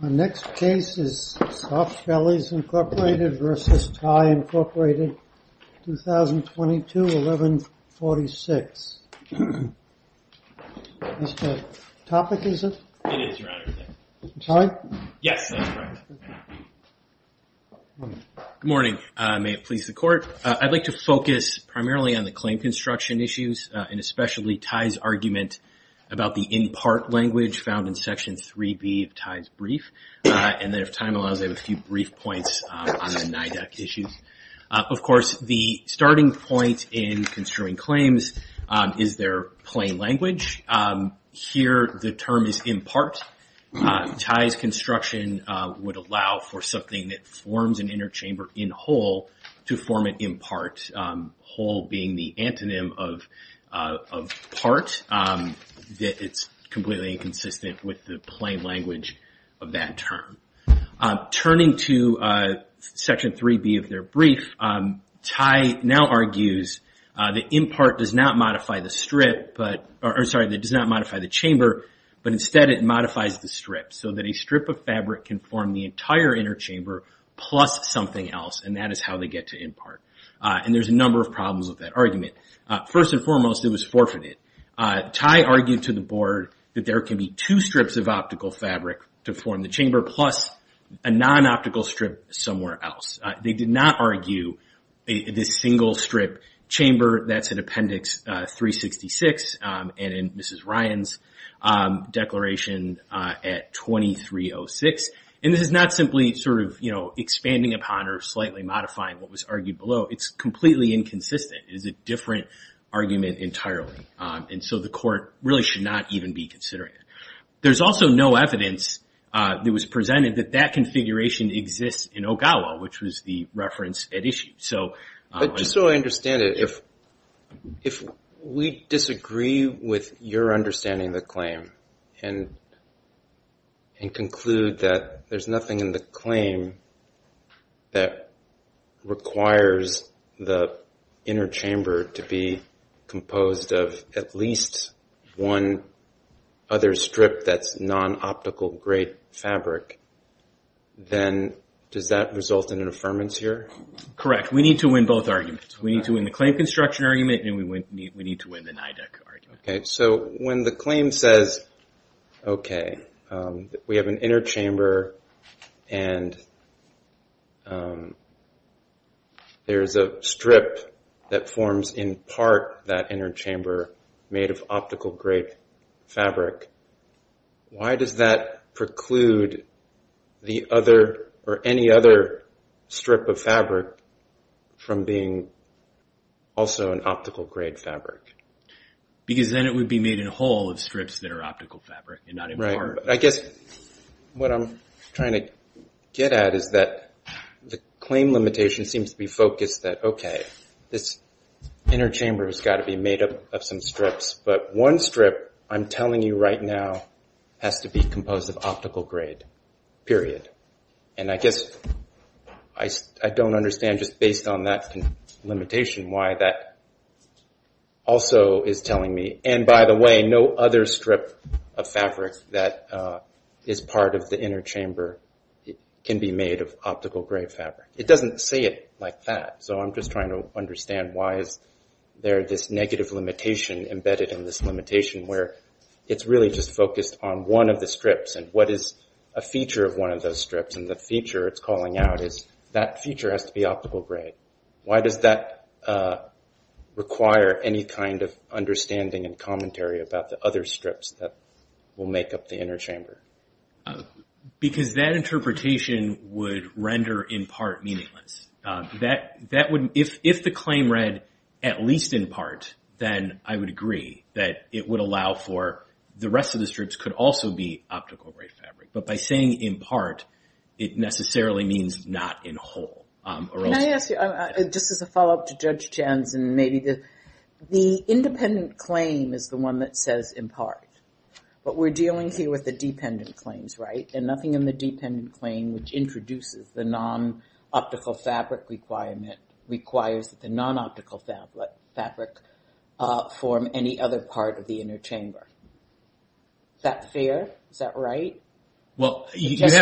My next case is Softbellys, Inc. v. TY, Inc. 2022-11-46. Mr. Topek, is it? It is, Your Honor. Ty? Yes, that's correct. Good morning. May it please the Court. I'd like to focus primarily on the claim construction issues, and especially Ty's argument about the in-part language found in Section 3B of Ty's brief. And then if time allows, I have a few brief points on the NIDAC issues. Of course, the starting point in construing claims is their plain language. Here, the term is in part. Ty's construction would allow for something that forms an inner chamber in whole to form an in part, whole being the antonym of part. It's completely inconsistent with the plain language of that term. Turning to Section 3B of their brief, Ty now argues that in part does not modify the strip, or sorry, that does not modify the chamber, but instead it modifies the strip. So that a strip of fabric can form the entire inner chamber plus something else, and that is how they get to in part. And there's a number of problems with that argument. First and foremost, it was forfeited. Ty argued to the board that there can be two strips of optical fabric to form the chamber plus a non-optical strip somewhere else. They did not argue this single strip chamber. That's in Appendix 366 and in Mrs. Ryan's declaration at 2306. And this is not simply sort of, you know, expanding upon or slightly modifying what was argued below. It's completely inconsistent. It is a different argument entirely. And so the court really should not even be considering it. There's also no evidence that was presented that that configuration exists in OGAWA, which was the reference at issue. So... But just so I understand it, if we disagree with your understanding of the claim and conclude that there's nothing in the claim that requires the inner chamber to be composed of at least one other strip that's non-optical grade fabric, then does that result in an affirmance here? Correct. We need to win both arguments. We need to win the claim construction argument, and we need to win the NIDAC argument. Okay. So when the claim says, okay, we have an inner chamber and there's a strip that forms in part that inner chamber made of optical grade fabric, why does that preclude the other or any other strip of fabric from being also an optical grade fabric? Because then it would be made in a whole of strips that are optical fabric and not in part. I guess what I'm trying to get at is that the claim limitation seems to be focused that, okay, this inner chamber has got to be made up of some strips. But one strip, I'm telling you right now, has to be composed of optical grade, period. And I guess I don't understand just based on that limitation why that also is telling me, and by the way, no other strip of fabric that is part of the inner chamber can be made of optical grade fabric. It doesn't say it like that. So I'm just trying to understand why is there this negative limitation embedded in this limitation where it's really just focused on one of the strips and what is a feature of one of those strips and the feature it's calling out is that feature has to be optical grade. Why does that require any kind of understanding and commentary about the other strips that will make up the inner chamber? Because that interpretation would render in part meaningless. If the claim read at least in part, then I would agree that it would allow for the rest of the strips could also be optical grade fabric. But by saying in part, it necessarily means not in whole. Can I ask you, just as a follow-up to Judge Janssen, maybe the independent claim is the one that says in part. But we're dealing here with the dependent claims, right? And nothing in the dependent claim which introduces the non-optical fabric requirement requires the non-optical fabric form any other part of the inner chamber. Is that fair? Is that right? Well, you have to...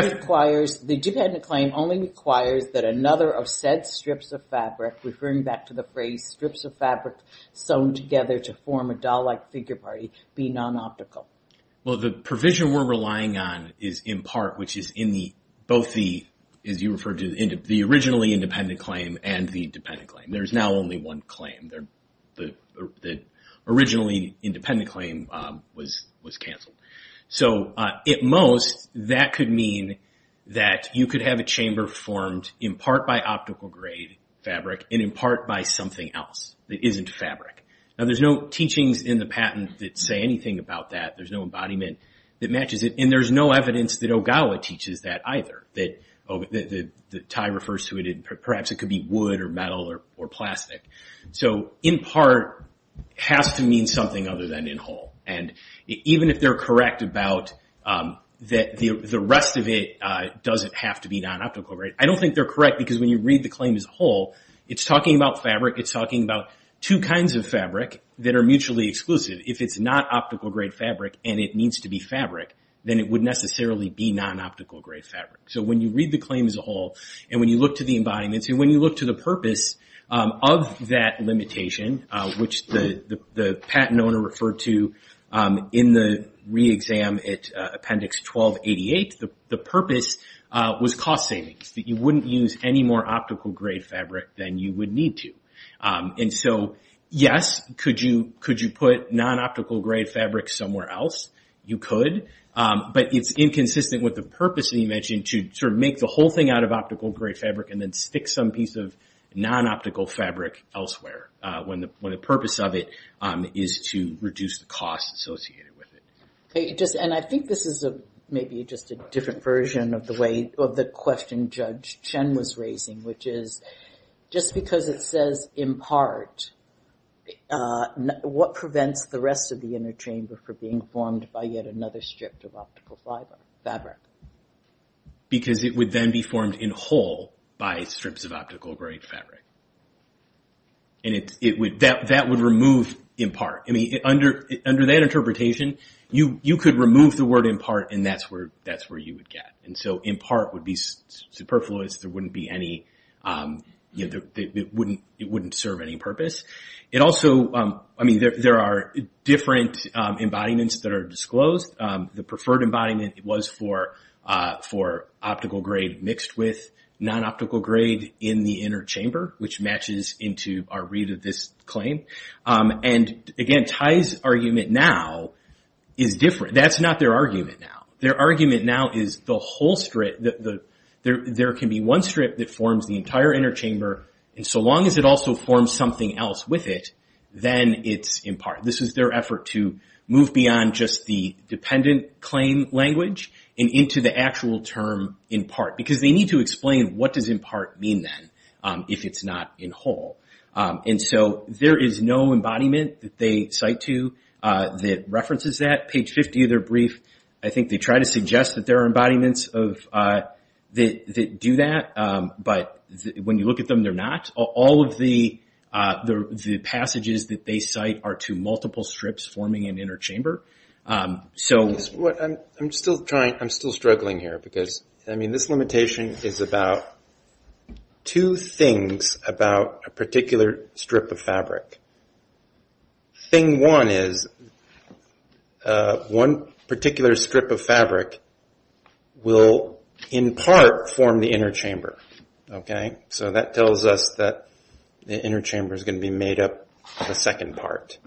That another of said strips of fabric, referring back to the phrase, strips of fabric sewn together to form a doll-like figure party be non-optical. Well, the provision we're relying on is in part, which is in both the, as you referred to, the originally independent claim and the dependent claim. There's now only one claim. The originally independent claim was canceled. At most, that could mean that you could have a chamber formed in part by optical grade fabric and in part by something else that isn't fabric. Now, there's no teachings in the patent that say anything about that. There's no embodiment that matches it. And there's no evidence that Ogawa teaches that either, that the tie refers to it. Perhaps it could be wood or metal or plastic. So in part, it has to mean something other than in whole. And even if they're correct about that, the rest of it doesn't have to be non-optical, right? I don't think they're correct because when you read the claim as a whole, it's talking about fabric. It's talking about two kinds of fabric that are mutually exclusive. If it's not optical grade fabric and it needs to be fabric, then it would necessarily be non-optical grade fabric. So when you read the claim as a whole, and when you look to the embodiments, and when you look to the purpose of that limitation, which the patent owner referred to in the re-exam at Appendix 1288, the purpose was cost savings, that you wouldn't use any more optical grade fabric than you would need to. And so, yes, could you put non-optical grade fabric somewhere else? You could. But it's inconsistent with the purpose that you mentioned to sort of make the whole thing out of optical grade fabric and then stick some piece of non-optical fabric elsewhere when the purpose of it is to reduce the cost associated with it. Okay, and I think this is maybe just a different version of the question Judge Chen was raising, which is just because it says impart, what prevents the rest of the inner chamber for being formed by yet another strip of optical fabric? Because it would then be formed in whole by strips of optical grade fabric. And that would remove impart. I mean, under that interpretation, you could remove the word impart, and that's where you would get. And so impart would be superfluous. There wouldn't be any, you know, it wouldn't serve any purpose. It also, I mean, there are different embodiments that are disclosed. The preferred embodiment was for optical grade mixed with non-optical grade in the inner chamber. Which matches into our read of this claim. And again, Tai's argument now is different. That's not their argument now. Their argument now is the whole strip. There can be one strip that forms the entire inner chamber. And so long as it also forms something else with it, then it's impart. This is their effort to move beyond just the dependent claim language and into the actual term impart. Because they need to explain what does impart mean then? If it's not in whole. And so there is no embodiment that they cite to that references that. Page 50 of their brief, I think they try to suggest that there are embodiments that do that. But when you look at them, they're not. All of the passages that they cite are to multiple strips forming an inner chamber. So what I'm still trying, I'm still struggling here. This limitation is about two things about a particular strip of fabric. Thing one is, one particular strip of fabric will impart form the inner chamber. So that tells us that the inner chamber is going to be made up of a second part.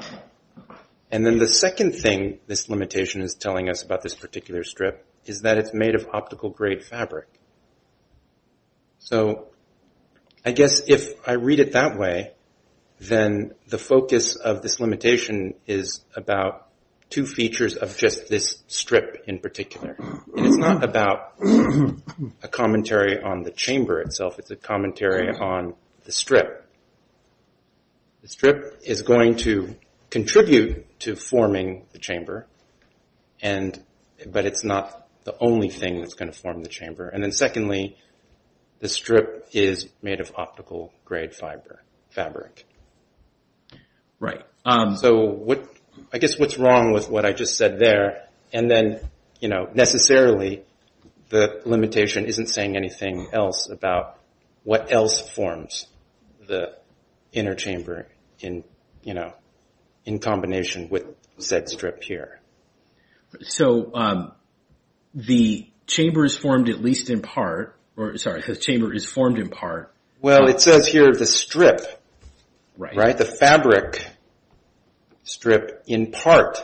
And then the second thing this limitation is telling us about this particular strip is that it's made of optical grade fabric. So I guess if I read it that way, then the focus of this limitation is about two features of just this strip in particular. And it's not about a commentary on the chamber itself. It's a commentary on the strip. The strip is going to contribute to forming the chamber. And but it's not the only thing that's going to form the chamber. And then secondly, the strip is made of optical grade fiber fabric. Right. So I guess what's wrong with what I just said there? And then necessarily, the limitation isn't saying anything else about what else forms the inner chamber in combination with said strip here. So the chamber is formed at least in part. Or sorry, the chamber is formed in part. Well, it says here the strip, right? The fabric strip in part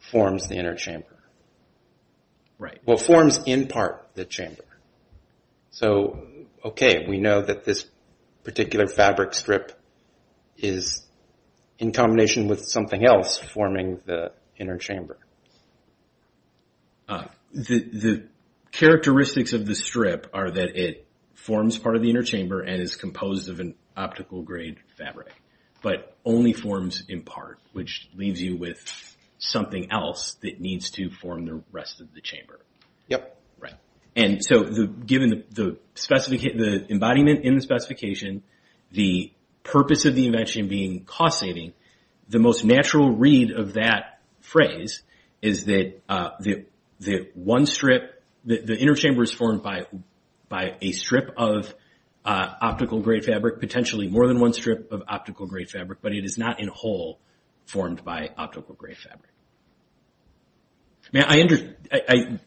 forms the inner chamber. Right. Well, forms in part the chamber. So OK, we know that this particular fabric strip is in combination with something else forming the inner chamber. The characteristics of the strip are that it forms part of the inner chamber and is composed of an optical grade fabric, but only forms in part, which leaves you with something else that needs to form the rest of the chamber. Yep. Right. And so given the embodiment in the specification, the purpose of the invention being causating, the most natural read of that phrase is that the one strip, the inner chamber is formed by a strip of optical grade fabric, potentially more than one strip of optical grade fabric, but it is not in whole formed by optical grade fabric.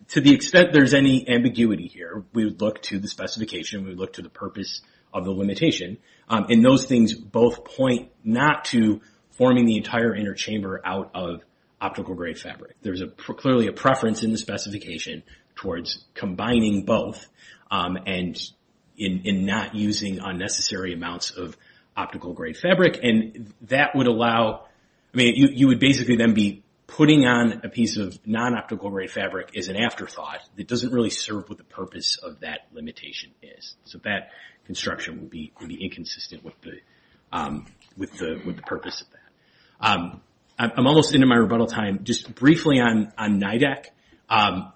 To the extent there's any ambiguity here, we would look to the specification, we would look to the purpose of the limitation. And those things both point not to forming the entire inner chamber out of optical grade fabric. There's clearly a preference in the specification towards combining both and in not using unnecessary amounts of optical grade fabric. And that would allow, I mean, you would basically then be putting on a piece of non-optical grade fabric as an afterthought that doesn't really serve what the purpose of that limitation is. So that construction would be inconsistent with the purpose of that. I'm almost into my rebuttal time. Just briefly on NIDAC,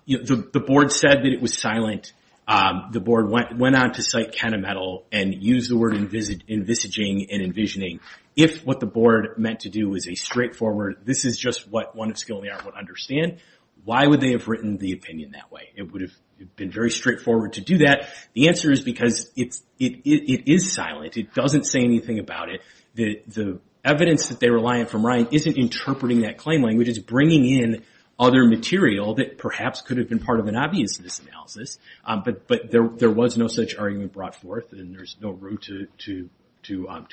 the board said that it was silent. The board went on to cite Kenna Metal and use the word envisaging and envisioning. If what the board meant to do was a straightforward, this is just what one of skill in the art would understand, why would they have written the opinion that way? It would have been very straightforward to do that. The answer is because it is silent. It doesn't say anything about it. The evidence that they rely on from Ryan isn't interpreting that claim language. It's bringing in other material that perhaps could have been part of an obviousness analysis. But there was no such argument brought forth and there's no room to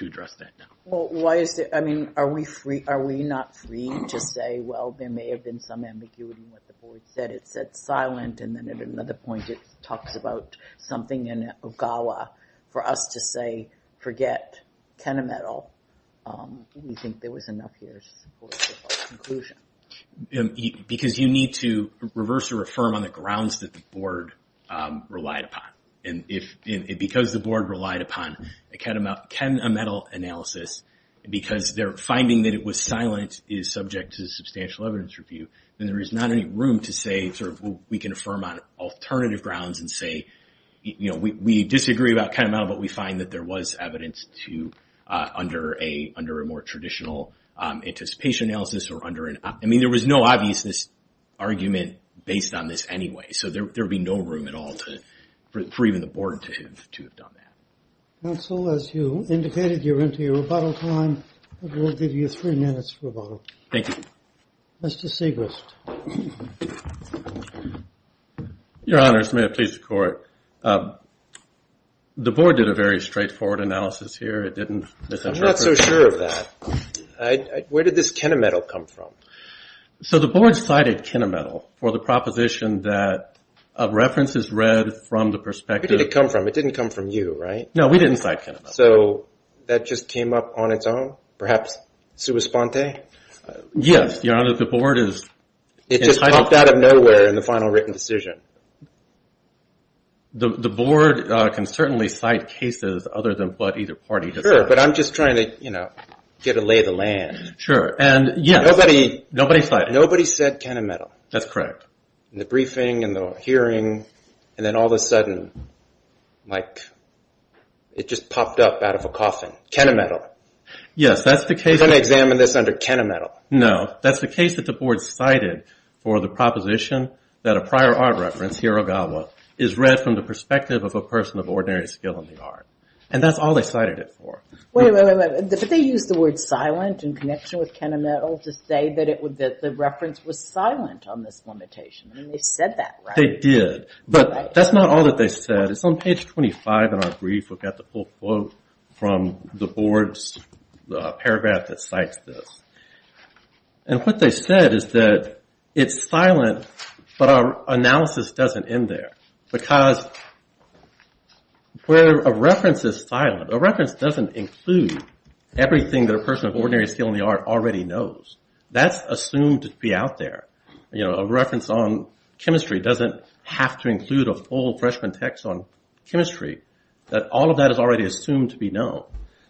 address that now. I mean, are we not free to say, well, there may have been some ambiguity in what the board said. It said silent and then at another point it talks about something in Ogawa. For us to say, forget Kenna Metal, we think there was enough here for a conclusion. Because you need to reverse or affirm on the grounds that the board relied upon. And because the board relied upon a Kenna Metal analysis, because they're finding that it was silent, is subject to substantial evidence review, then there is not any room to say, we can affirm on alternative grounds and say, we disagree about Kenna Metal, but we find that there was evidence under a more traditional anticipation analysis or under an... I mean, there was no obviousness argument based on this anyway. So there would be no room at all for even the board to have done that. Counsel, as you indicated, you're into your rebuttal time. I will give you three minutes for rebuttal. Thank you. Mr. Segrist. Your Honor, may it please the court. The board did a very straightforward analysis here. It didn't... I'm not so sure of that. Where did this Kenna Metal come from? So the board cited Kenna Metal for the proposition that a reference is read from the perspective... Where did it come from? It didn't come from you, right? No, we didn't cite Kenna Metal. So that just came up on its own? Perhaps, sua sponte? Yes, Your Honor, the board is... It just popped out of nowhere in the final written decision. The board can certainly cite cases other than what either party... Sure, but I'm just trying to get a lay of the land. Sure, and yes... Nobody said Kenna Metal. That's correct. In the briefing, in the hearing, and then all of a sudden, like, it just popped up out of a coffin. Kenna Metal. Yes, that's the case... I'm going to examine this under Kenna Metal. No, that's the case that the board cited for the proposition that a prior art reference, Hiragawa, is read from the perspective of a person of ordinary skill in the art. And that's all they cited it for. Wait, wait, wait, but they used the word silent in connection with Kenna Metal to say that the reference was silent on this limitation. I mean, they said that, right? They did, but that's not all that they said. It's on page 25 in our brief. We've got the full quote from the board's paragraph that cites this. And what they said is that it's silent, but our analysis doesn't end there. Because where a reference is silent, a reference doesn't include everything that a person of ordinary skill in the art already knows. That's assumed to be out there. You know, a reference on chemistry doesn't have to include a full freshman text on chemistry. That all of that is already assumed to be known.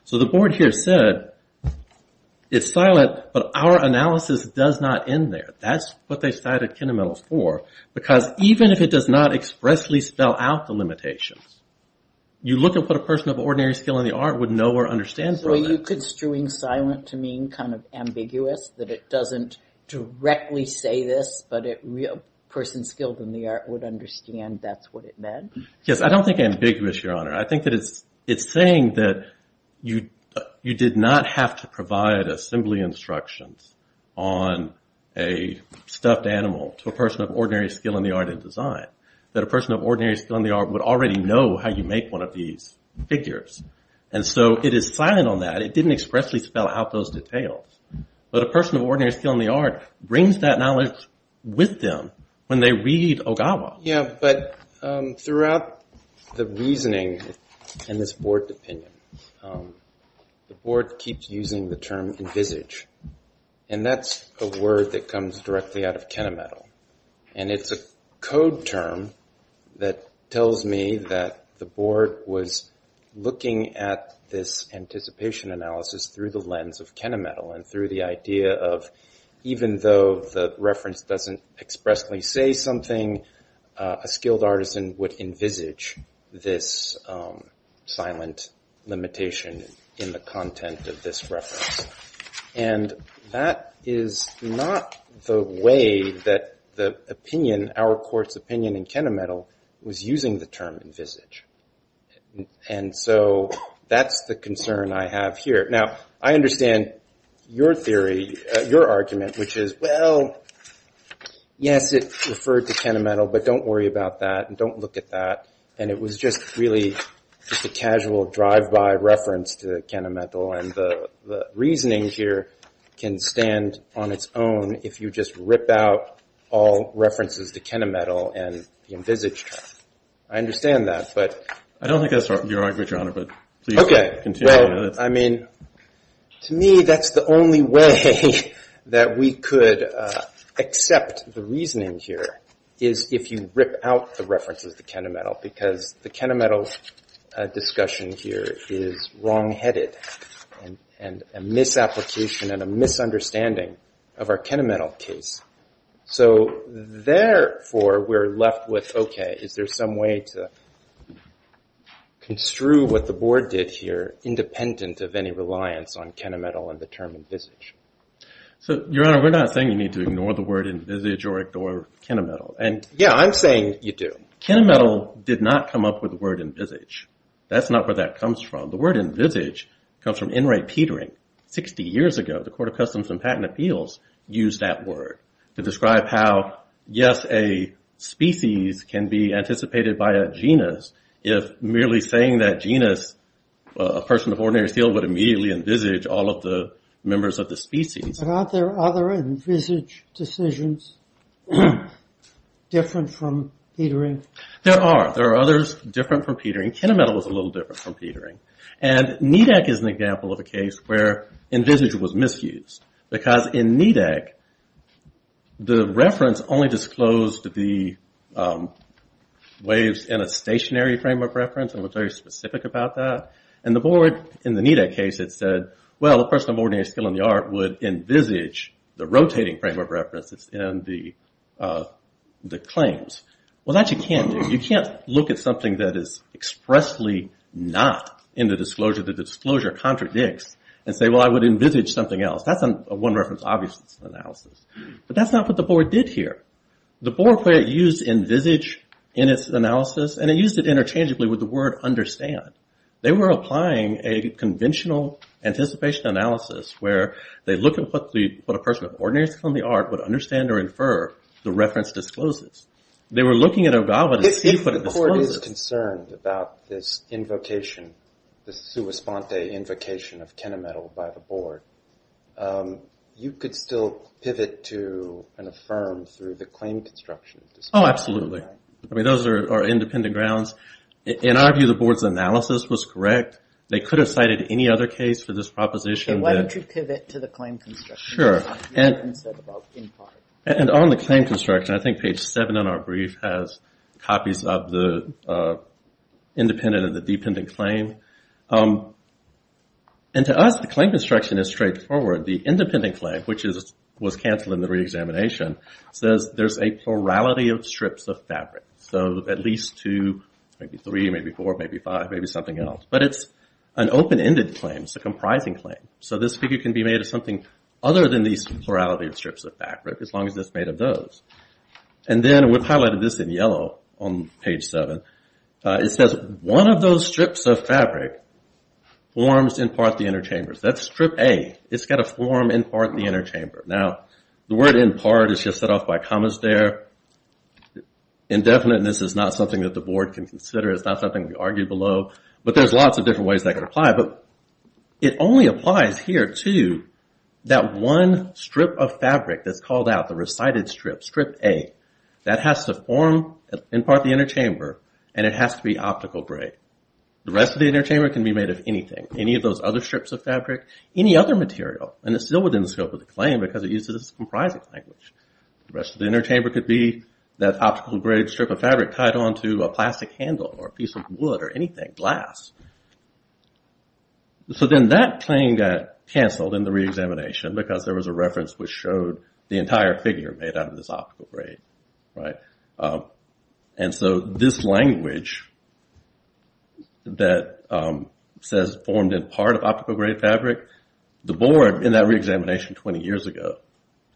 So the board here said, it's silent, but our analysis does not end there. That's what they cited Kenna Metal for. Because even if it does not expressly spell out the limitations, you look at what a person of ordinary skill in the art would know or understand... Were you construing silent to mean kind of ambiguous? That it doesn't directly say this, but a person skilled in the art would understand that's what it meant? Yes, I don't think ambiguous, Your Honor. I think that it's saying that you did not have to provide assembly instructions on a stuffed animal to a person of ordinary skill in the art and design. That a person of ordinary skill in the art would already know how you make one of these figures. And so it is silent on that. It didn't expressly spell out those details. But a person of ordinary skill in the art brings that knowledge with them when they read Ogawa. Yeah, but throughout the reasoning and this board opinion, the board keeps using the term envisage. And that's a word that comes directly out of Kenna Metal. And it's a code term that tells me that the board was looking at this anticipation analysis through the lens of Kenna Metal and through the idea of even though the reference doesn't expressly say something, a skilled artisan would envisage this silent limitation in the content of this reference. And that is not the way that the opinion, our court's opinion in Kenna Metal was using the term envisage. And so that's the concern I have here. Now, I understand your theory, your argument, which is, well, yes, it referred to Kenna Metal, but don't worry about that and don't look at that. And it was just really just a casual drive-by reference to Kenna Metal. And the reasoning here can stand on its own if you just rip out all references to Kenna Metal and the envisage term. I understand that, but... I don't think that's your argument, Your Honor, but please continue. I mean, to me, that's the only way that we could accept the reasoning here is if you rip out the references to Kenna Metal because the Kenna Metal discussion here is wrongheaded and a misapplication and a misunderstanding of our Kenna Metal case. So therefore, we're left with, okay, is there some way to construe what the board did here independent of any reliance on Kenna Metal and the term envisage? So, Your Honor, we're not saying you need to ignore the word envisage or ignore Kenna Metal. And yeah, I'm saying you do. Kenna Metal did not come up with the word envisage. That's not where that comes from. The word envisage comes from Enright Petering. Sixty years ago, the Court of Customs and Patent Appeals used that word to describe how, yes, a species can be anticipated by a genus if merely saying that genus, a person of ordinary seal would immediately envisage all of the members of the species. But aren't there other envisage decisions different from Petering? There are. There are others different from Petering. Kenna Metal was a little different from Petering. And NEDAC is an example of a case where envisage was misused. Because in NEDAC, the reference only disclosed the waves in a stationary frame of reference. It was very specific about that. And the board, in the NEDAC case, it said, well, a person of ordinary skill in the art would envisage the rotating frame of reference that's in the claims. Well, that you can't do. You can't look at something that is expressly not in the disclosure that the disclosure contradicts and say, well, I would envisage something else. That's a one-reference-obviousness analysis. But that's not what the board did here. The board used envisage in its analysis, and it used it interchangeably with the word understand. They were applying a conventional anticipation analysis where they look at what a person of ordinary skill in the art would understand or infer the reference discloses. They were looking at Ogawa to see what it discloses. I was concerned about this invocation, the sua sponte invocation of Kenametal by the board. You could still pivot to and affirm through the claim construction. Oh, absolutely. I mean, those are independent grounds. In our view, the board's analysis was correct. They could have cited any other case for this proposition. Why don't you pivot to the claim construction? Sure. And on the claim construction, I think page 7 in our brief has copies of the independent and the dependent claim. And to us, the claim construction is straightforward. The independent claim, which was canceled in the reexamination, says there's a plurality of strips of fabric. So at least two, maybe three, maybe four, maybe five, maybe something else. But it's an open-ended claim. It's a comprising claim. So this figure can be made of something other than these plurality of strips of fabric, as long as it's made of those. And then we've highlighted this in yellow on page 7. It says, one of those strips of fabric forms in part the interchambers. That's strip A. It's got a form in part the interchamber. Now, the word in part is just set off by commas there. Indefiniteness is not something that the board can consider. It's not something we argue below. But there's lots of different ways that could apply. But it only applies here to that one strip of fabric that's called out, the recited strip, strip A. That has to form in part the interchamber. And it has to be optical grade. The rest of the interchamber can be made of anything, any of those other strips of fabric, any other material. And it's still within the scope of the claim because it uses a comprising language. The rest of the interchamber could be that optical grade strip of fabric tied onto a plastic handle or a piece of wood or anything, glass. So then that claim got canceled in the reexamination because there was a reference which showed the entire figure made out of this optical grade, right? And so this language that says formed in part of optical grade fabric, the board in that reexamination 20 years ago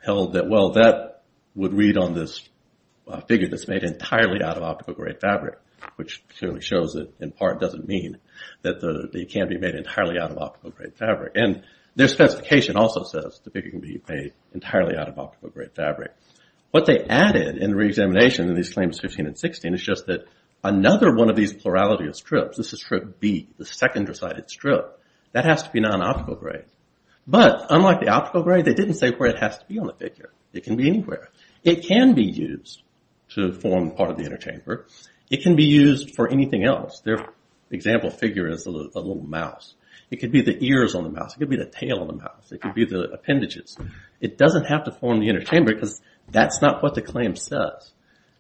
held that, well, that would read on this figure that's made entirely out of optical grade fabric, which clearly shows that in part doesn't mean that they can be made entirely out of optical grade fabric. And their specification also says the figure can be made entirely out of optical grade fabric. What they added in the reexamination in these claims 15 and 16 is just that another one of these plurality of strips, this is strip B, the second recited strip, that has to be non-optical grade. But unlike the optical grade, they didn't say where it has to be on the figure. It can be anywhere. It can be used to form part of the interchamber. It can be used for anything else. Their example figure is a little mouse. It could be the ears on the mouse. It could be the tail on the mouse. It could be the appendages. It doesn't have to form the interchamber because that's not what the claim says.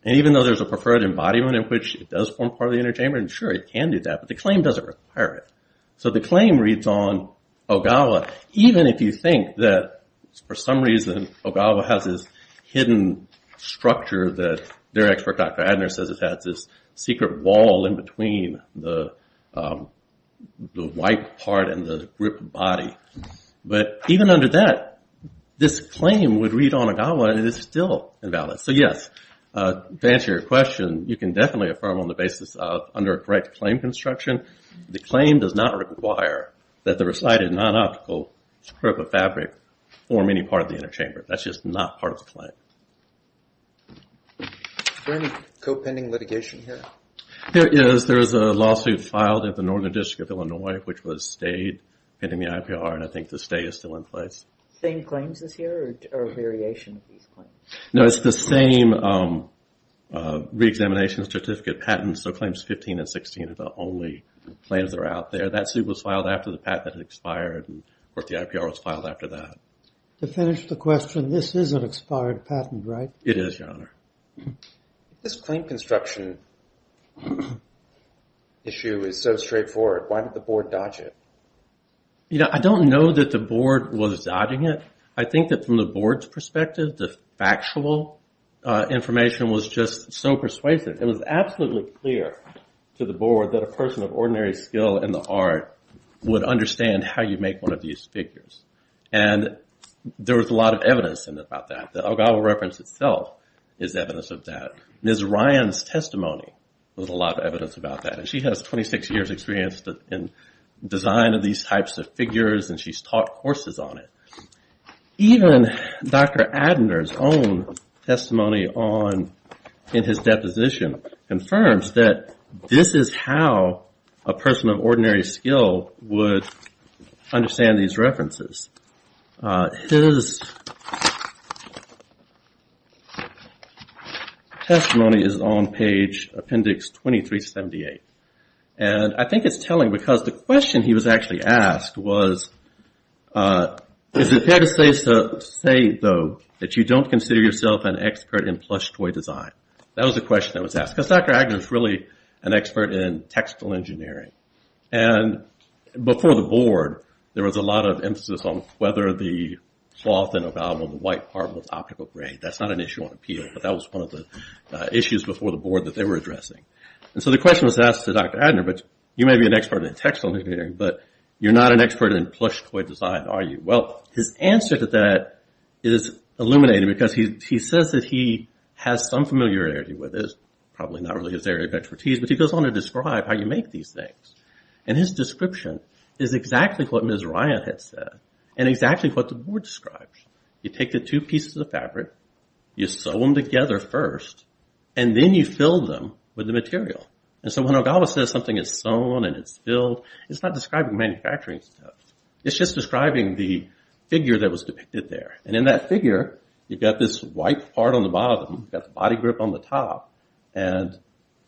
And even though there's a preferred embodiment in which it does form part of the interchamber, sure, it can do that, but the claim doesn't require it. So the claim reads on Ogawa, even if you think that for some reason Ogawa has this hidden structure that their expert, Dr. Adner, says it has this secret wall in between the white part and the gripped body. But even under that, this claim would read on Ogawa and it is still invalid. So yes, to answer your question, you can definitely affirm on the basis of under a correct claim construction, the claim does not require that the recited non-optical strip of fabric form any part of the interchamber. That's just not part of the claim. Is there any co-pending litigation here? There is. There is a lawsuit filed at the Northern District of Illinois, which was stayed pending the IPR and I think the stay is still in place. Same claims as here or a variation of these claims? No, it's the same re-examination certificate patent. So claims 15 and 16 are the only claims that are out there. That suit was filed after the patent had expired and of course the IPR was filed after that. To finish the question, this is an expired patent, right? It is, Your Honor. This claim construction issue is so straightforward. Why did the board dodge it? You know, I don't know that the board was dodging it. I think that from the board's perspective, the factual information was just so persuasive. It was absolutely clear to the board that a person of ordinary skill in the art would understand how you make one of these figures and there was a lot of evidence about that. The Elgato reference itself is evidence of that. Ms. Ryan's testimony was a lot of evidence about that and she has 26 years experience in design of these types of figures and she's taught courses on it. Even Dr. Adener's own testimony in his deposition confirms that this is how a person of ordinary skill would understand these references. His testimony is on page appendix 2378 and I think it's telling because the question he was actually asked was, is it fair to say though that you don't consider yourself an expert in plush toy design? That was the question that was asked because Dr. Adener's really an expert in textile engineering and before the board, there was a lot of emphasis on whether the cloth and the white part was optical grade. That's not an issue on appeal but that was one of the issues before the board that they were addressing. And so the question was asked to Dr. Adener but you may be an expert in textile engineering but you're not an expert in plush toy design, are you? Well, his answer to that is illuminating because he says that he has some familiarity with this, probably not really his area of expertise, but he goes on to describe how you make these things. And his description is exactly what Ms. Ryan had said and exactly what the board describes. You take the two pieces of fabric, you sew them together first and then you fill them with the material. And so when Ogawa says something is sewn and it's filled, it's not describing manufacturing stuff. It's just describing the figure that was depicted there. And in that figure, you've got this white part on the bottom, you've got the body grip on the top and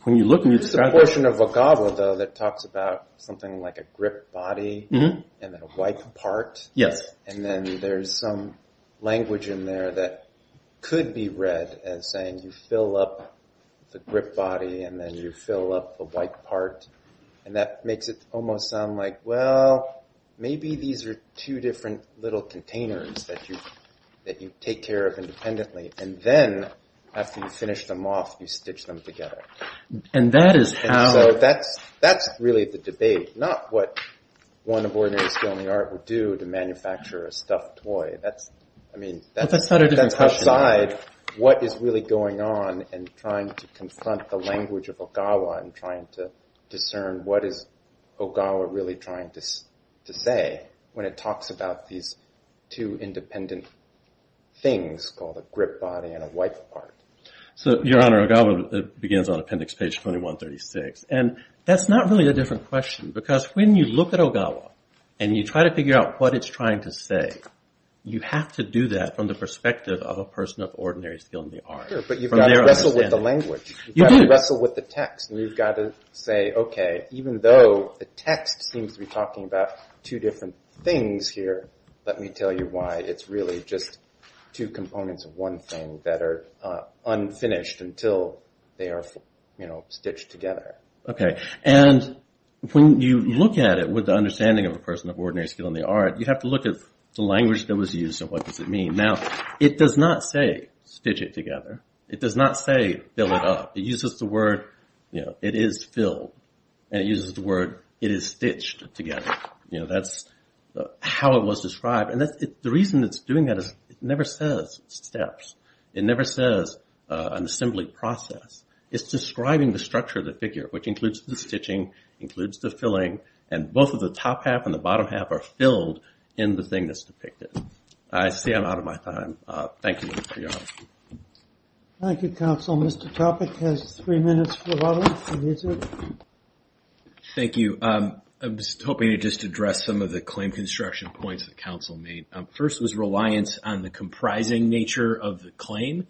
when you look and you describe it- There's a portion of Ogawa though that talks about something like a grip body and then a white part. Yes. And then there's some language in there that could be read as saying you fill up the grip body and then you fill up the white part and that makes it almost sound like, well, maybe these are two different little containers that you take care of independently. And then after you finish them off, you stitch them together. And that is how- And so that's really the debate, not what one of ordinary skill in the art would do to manufacture a stuffed toy. That's, I mean- That's not a different question. That's outside what is really going on and trying to confront the language of Ogawa and trying to discern what is Ogawa really trying to say when it talks about these two independent things called a grip body and a white part. So, Your Honor, Ogawa begins on appendix page 2136. And that's not really a different question because when you look at Ogawa and you try to figure out what it's trying to say, you have to do that from the perspective of a person of ordinary skill in the art. Sure, but you've got to wrestle with the language. You do. You've got to wrestle with the text and you've got to say, okay, even though the text seems to be talking about two different things here, let me tell you why it's really just two components of one thing that are unfinished until they are stitched together. Okay, and when you look at it with the understanding of a person of ordinary skill in the art, you have to look at the language that was used and what does it mean. Now, it does not say stitch it together. It does not say fill it up. It uses the word, you know, it is filled. And it uses the word, it is stitched together. You know, that's how it was described. And the reason it's doing that is it never says steps. It never says an assembly process. It's describing the structure of the figure, which includes the stitching, includes the filling, and both of the top half and the bottom half are filled in the thing that's depicted. I see I'm out of my time. Thank you. Thank you, counsel. Mr. Topic has three minutes for audience to visit. Thank you. I was hoping to just address some of the claim construction points that counsel made. First was reliance on the comprising nature of the claim.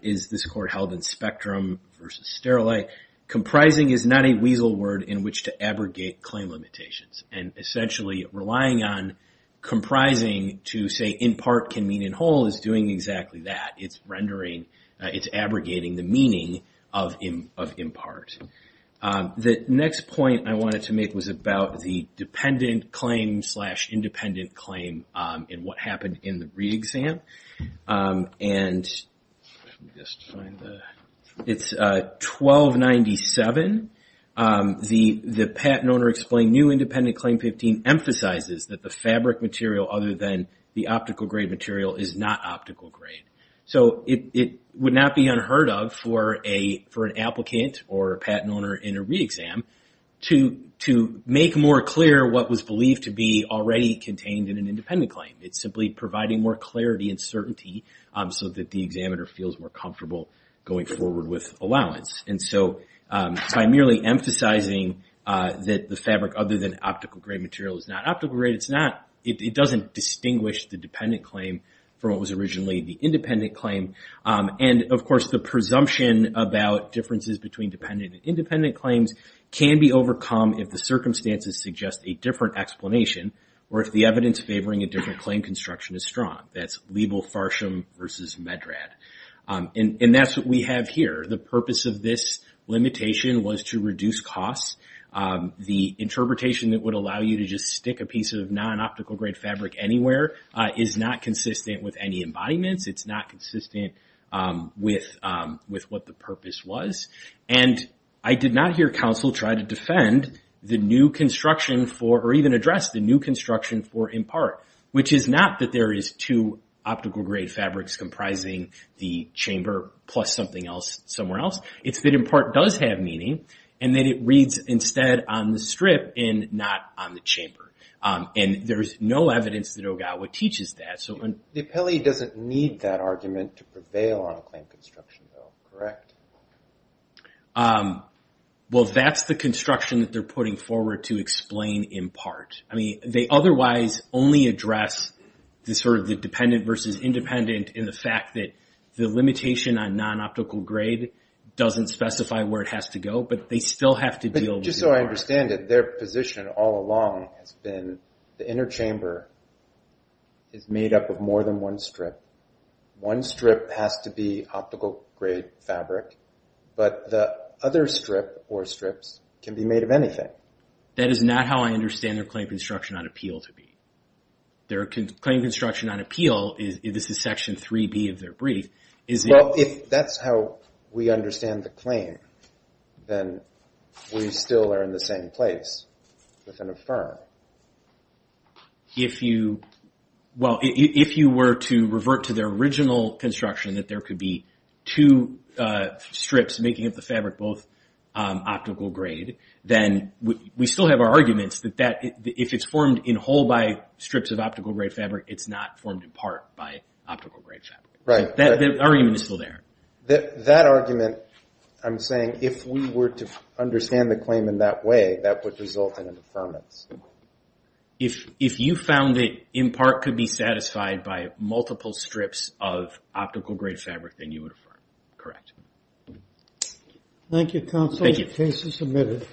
Is this court held in spectrum versus sterile? Comprising is not a weasel word in which to abrogate claim limitations. And essentially relying on comprising to say impart can mean in whole is doing exactly that. It's rendering, it's abrogating the meaning of impart. The next point I wanted to make was about the dependent claim slash independent claim and what happened in the re-exam. It's 1297. The patent owner explained new independent claim 15 emphasizes that the fabric material other than the optical grade material is not optical grade. So it would not be unheard of for an applicant or a patent owner in a re-exam to make more clear what was believed to be already contained in an independent claim. It's simply providing more clarity and certainty so that the examiner feels more comfortable going forward with allowance. And so by merely emphasizing that the fabric other than optical grade material is not optical grade, it's not, it doesn't distinguish the dependent claim from what was originally the independent claim. And of course, the presumption about differences between dependent and independent claims can be overcome if the circumstances suggest a different explanation or if the evidence favoring a different claim construction is strong. That's Liebel-Farsham versus Medrad. And that's what we have here. The purpose of this limitation was to reduce costs. The interpretation that would allow you to just stick a piece of non-optical grade fabric anywhere is not consistent with any embodiments. It's not consistent with what the purpose was. And I did not hear counsel try to defend the new construction for, or even address the new construction for IMPART, which is not that there is two optical grade fabrics comprising the chamber plus something else somewhere else. It's that IMPART does have meaning and that it reads instead on the strip and not on the chamber. And there's no evidence that Ogawa teaches that. So when- The appellee doesn't need that argument to prevail on a claim construction bill, correct? Well, that's the construction that they're putting forward to explain IMPART. I mean, they otherwise only address the sort of the dependent versus independent in the fact that the limitation on non-optical grade doesn't specify where it has to go, but they still have to deal with IMPART. But just so I understand it, their position all along has been the inner chamber is made up of more than one strip. One strip has to be optical grade fabric. But the other strip or strips can be made of anything. That is not how I understand their claim construction on appeal to be. Their claim construction on appeal is, this is section 3B of their brief, is- Well, if that's how we understand the claim, then we still are in the same place with an affirm. If you- Well, if you were to revert to their original construction that there could be two strips making up the fabric, both optical grade, then we still have our arguments that if it's formed in whole by strips of optical grade fabric, it's not formed in part by optical grade fabric. Right. That argument is still there. That argument, I'm saying, if we were to understand the claim in that way, that would result in an affirmance. If you found that IMPART could be satisfied by multiple strips of optical grade fabric, then you would affirm. Correct. Thank you, counsel. Thank you. Case is submitted.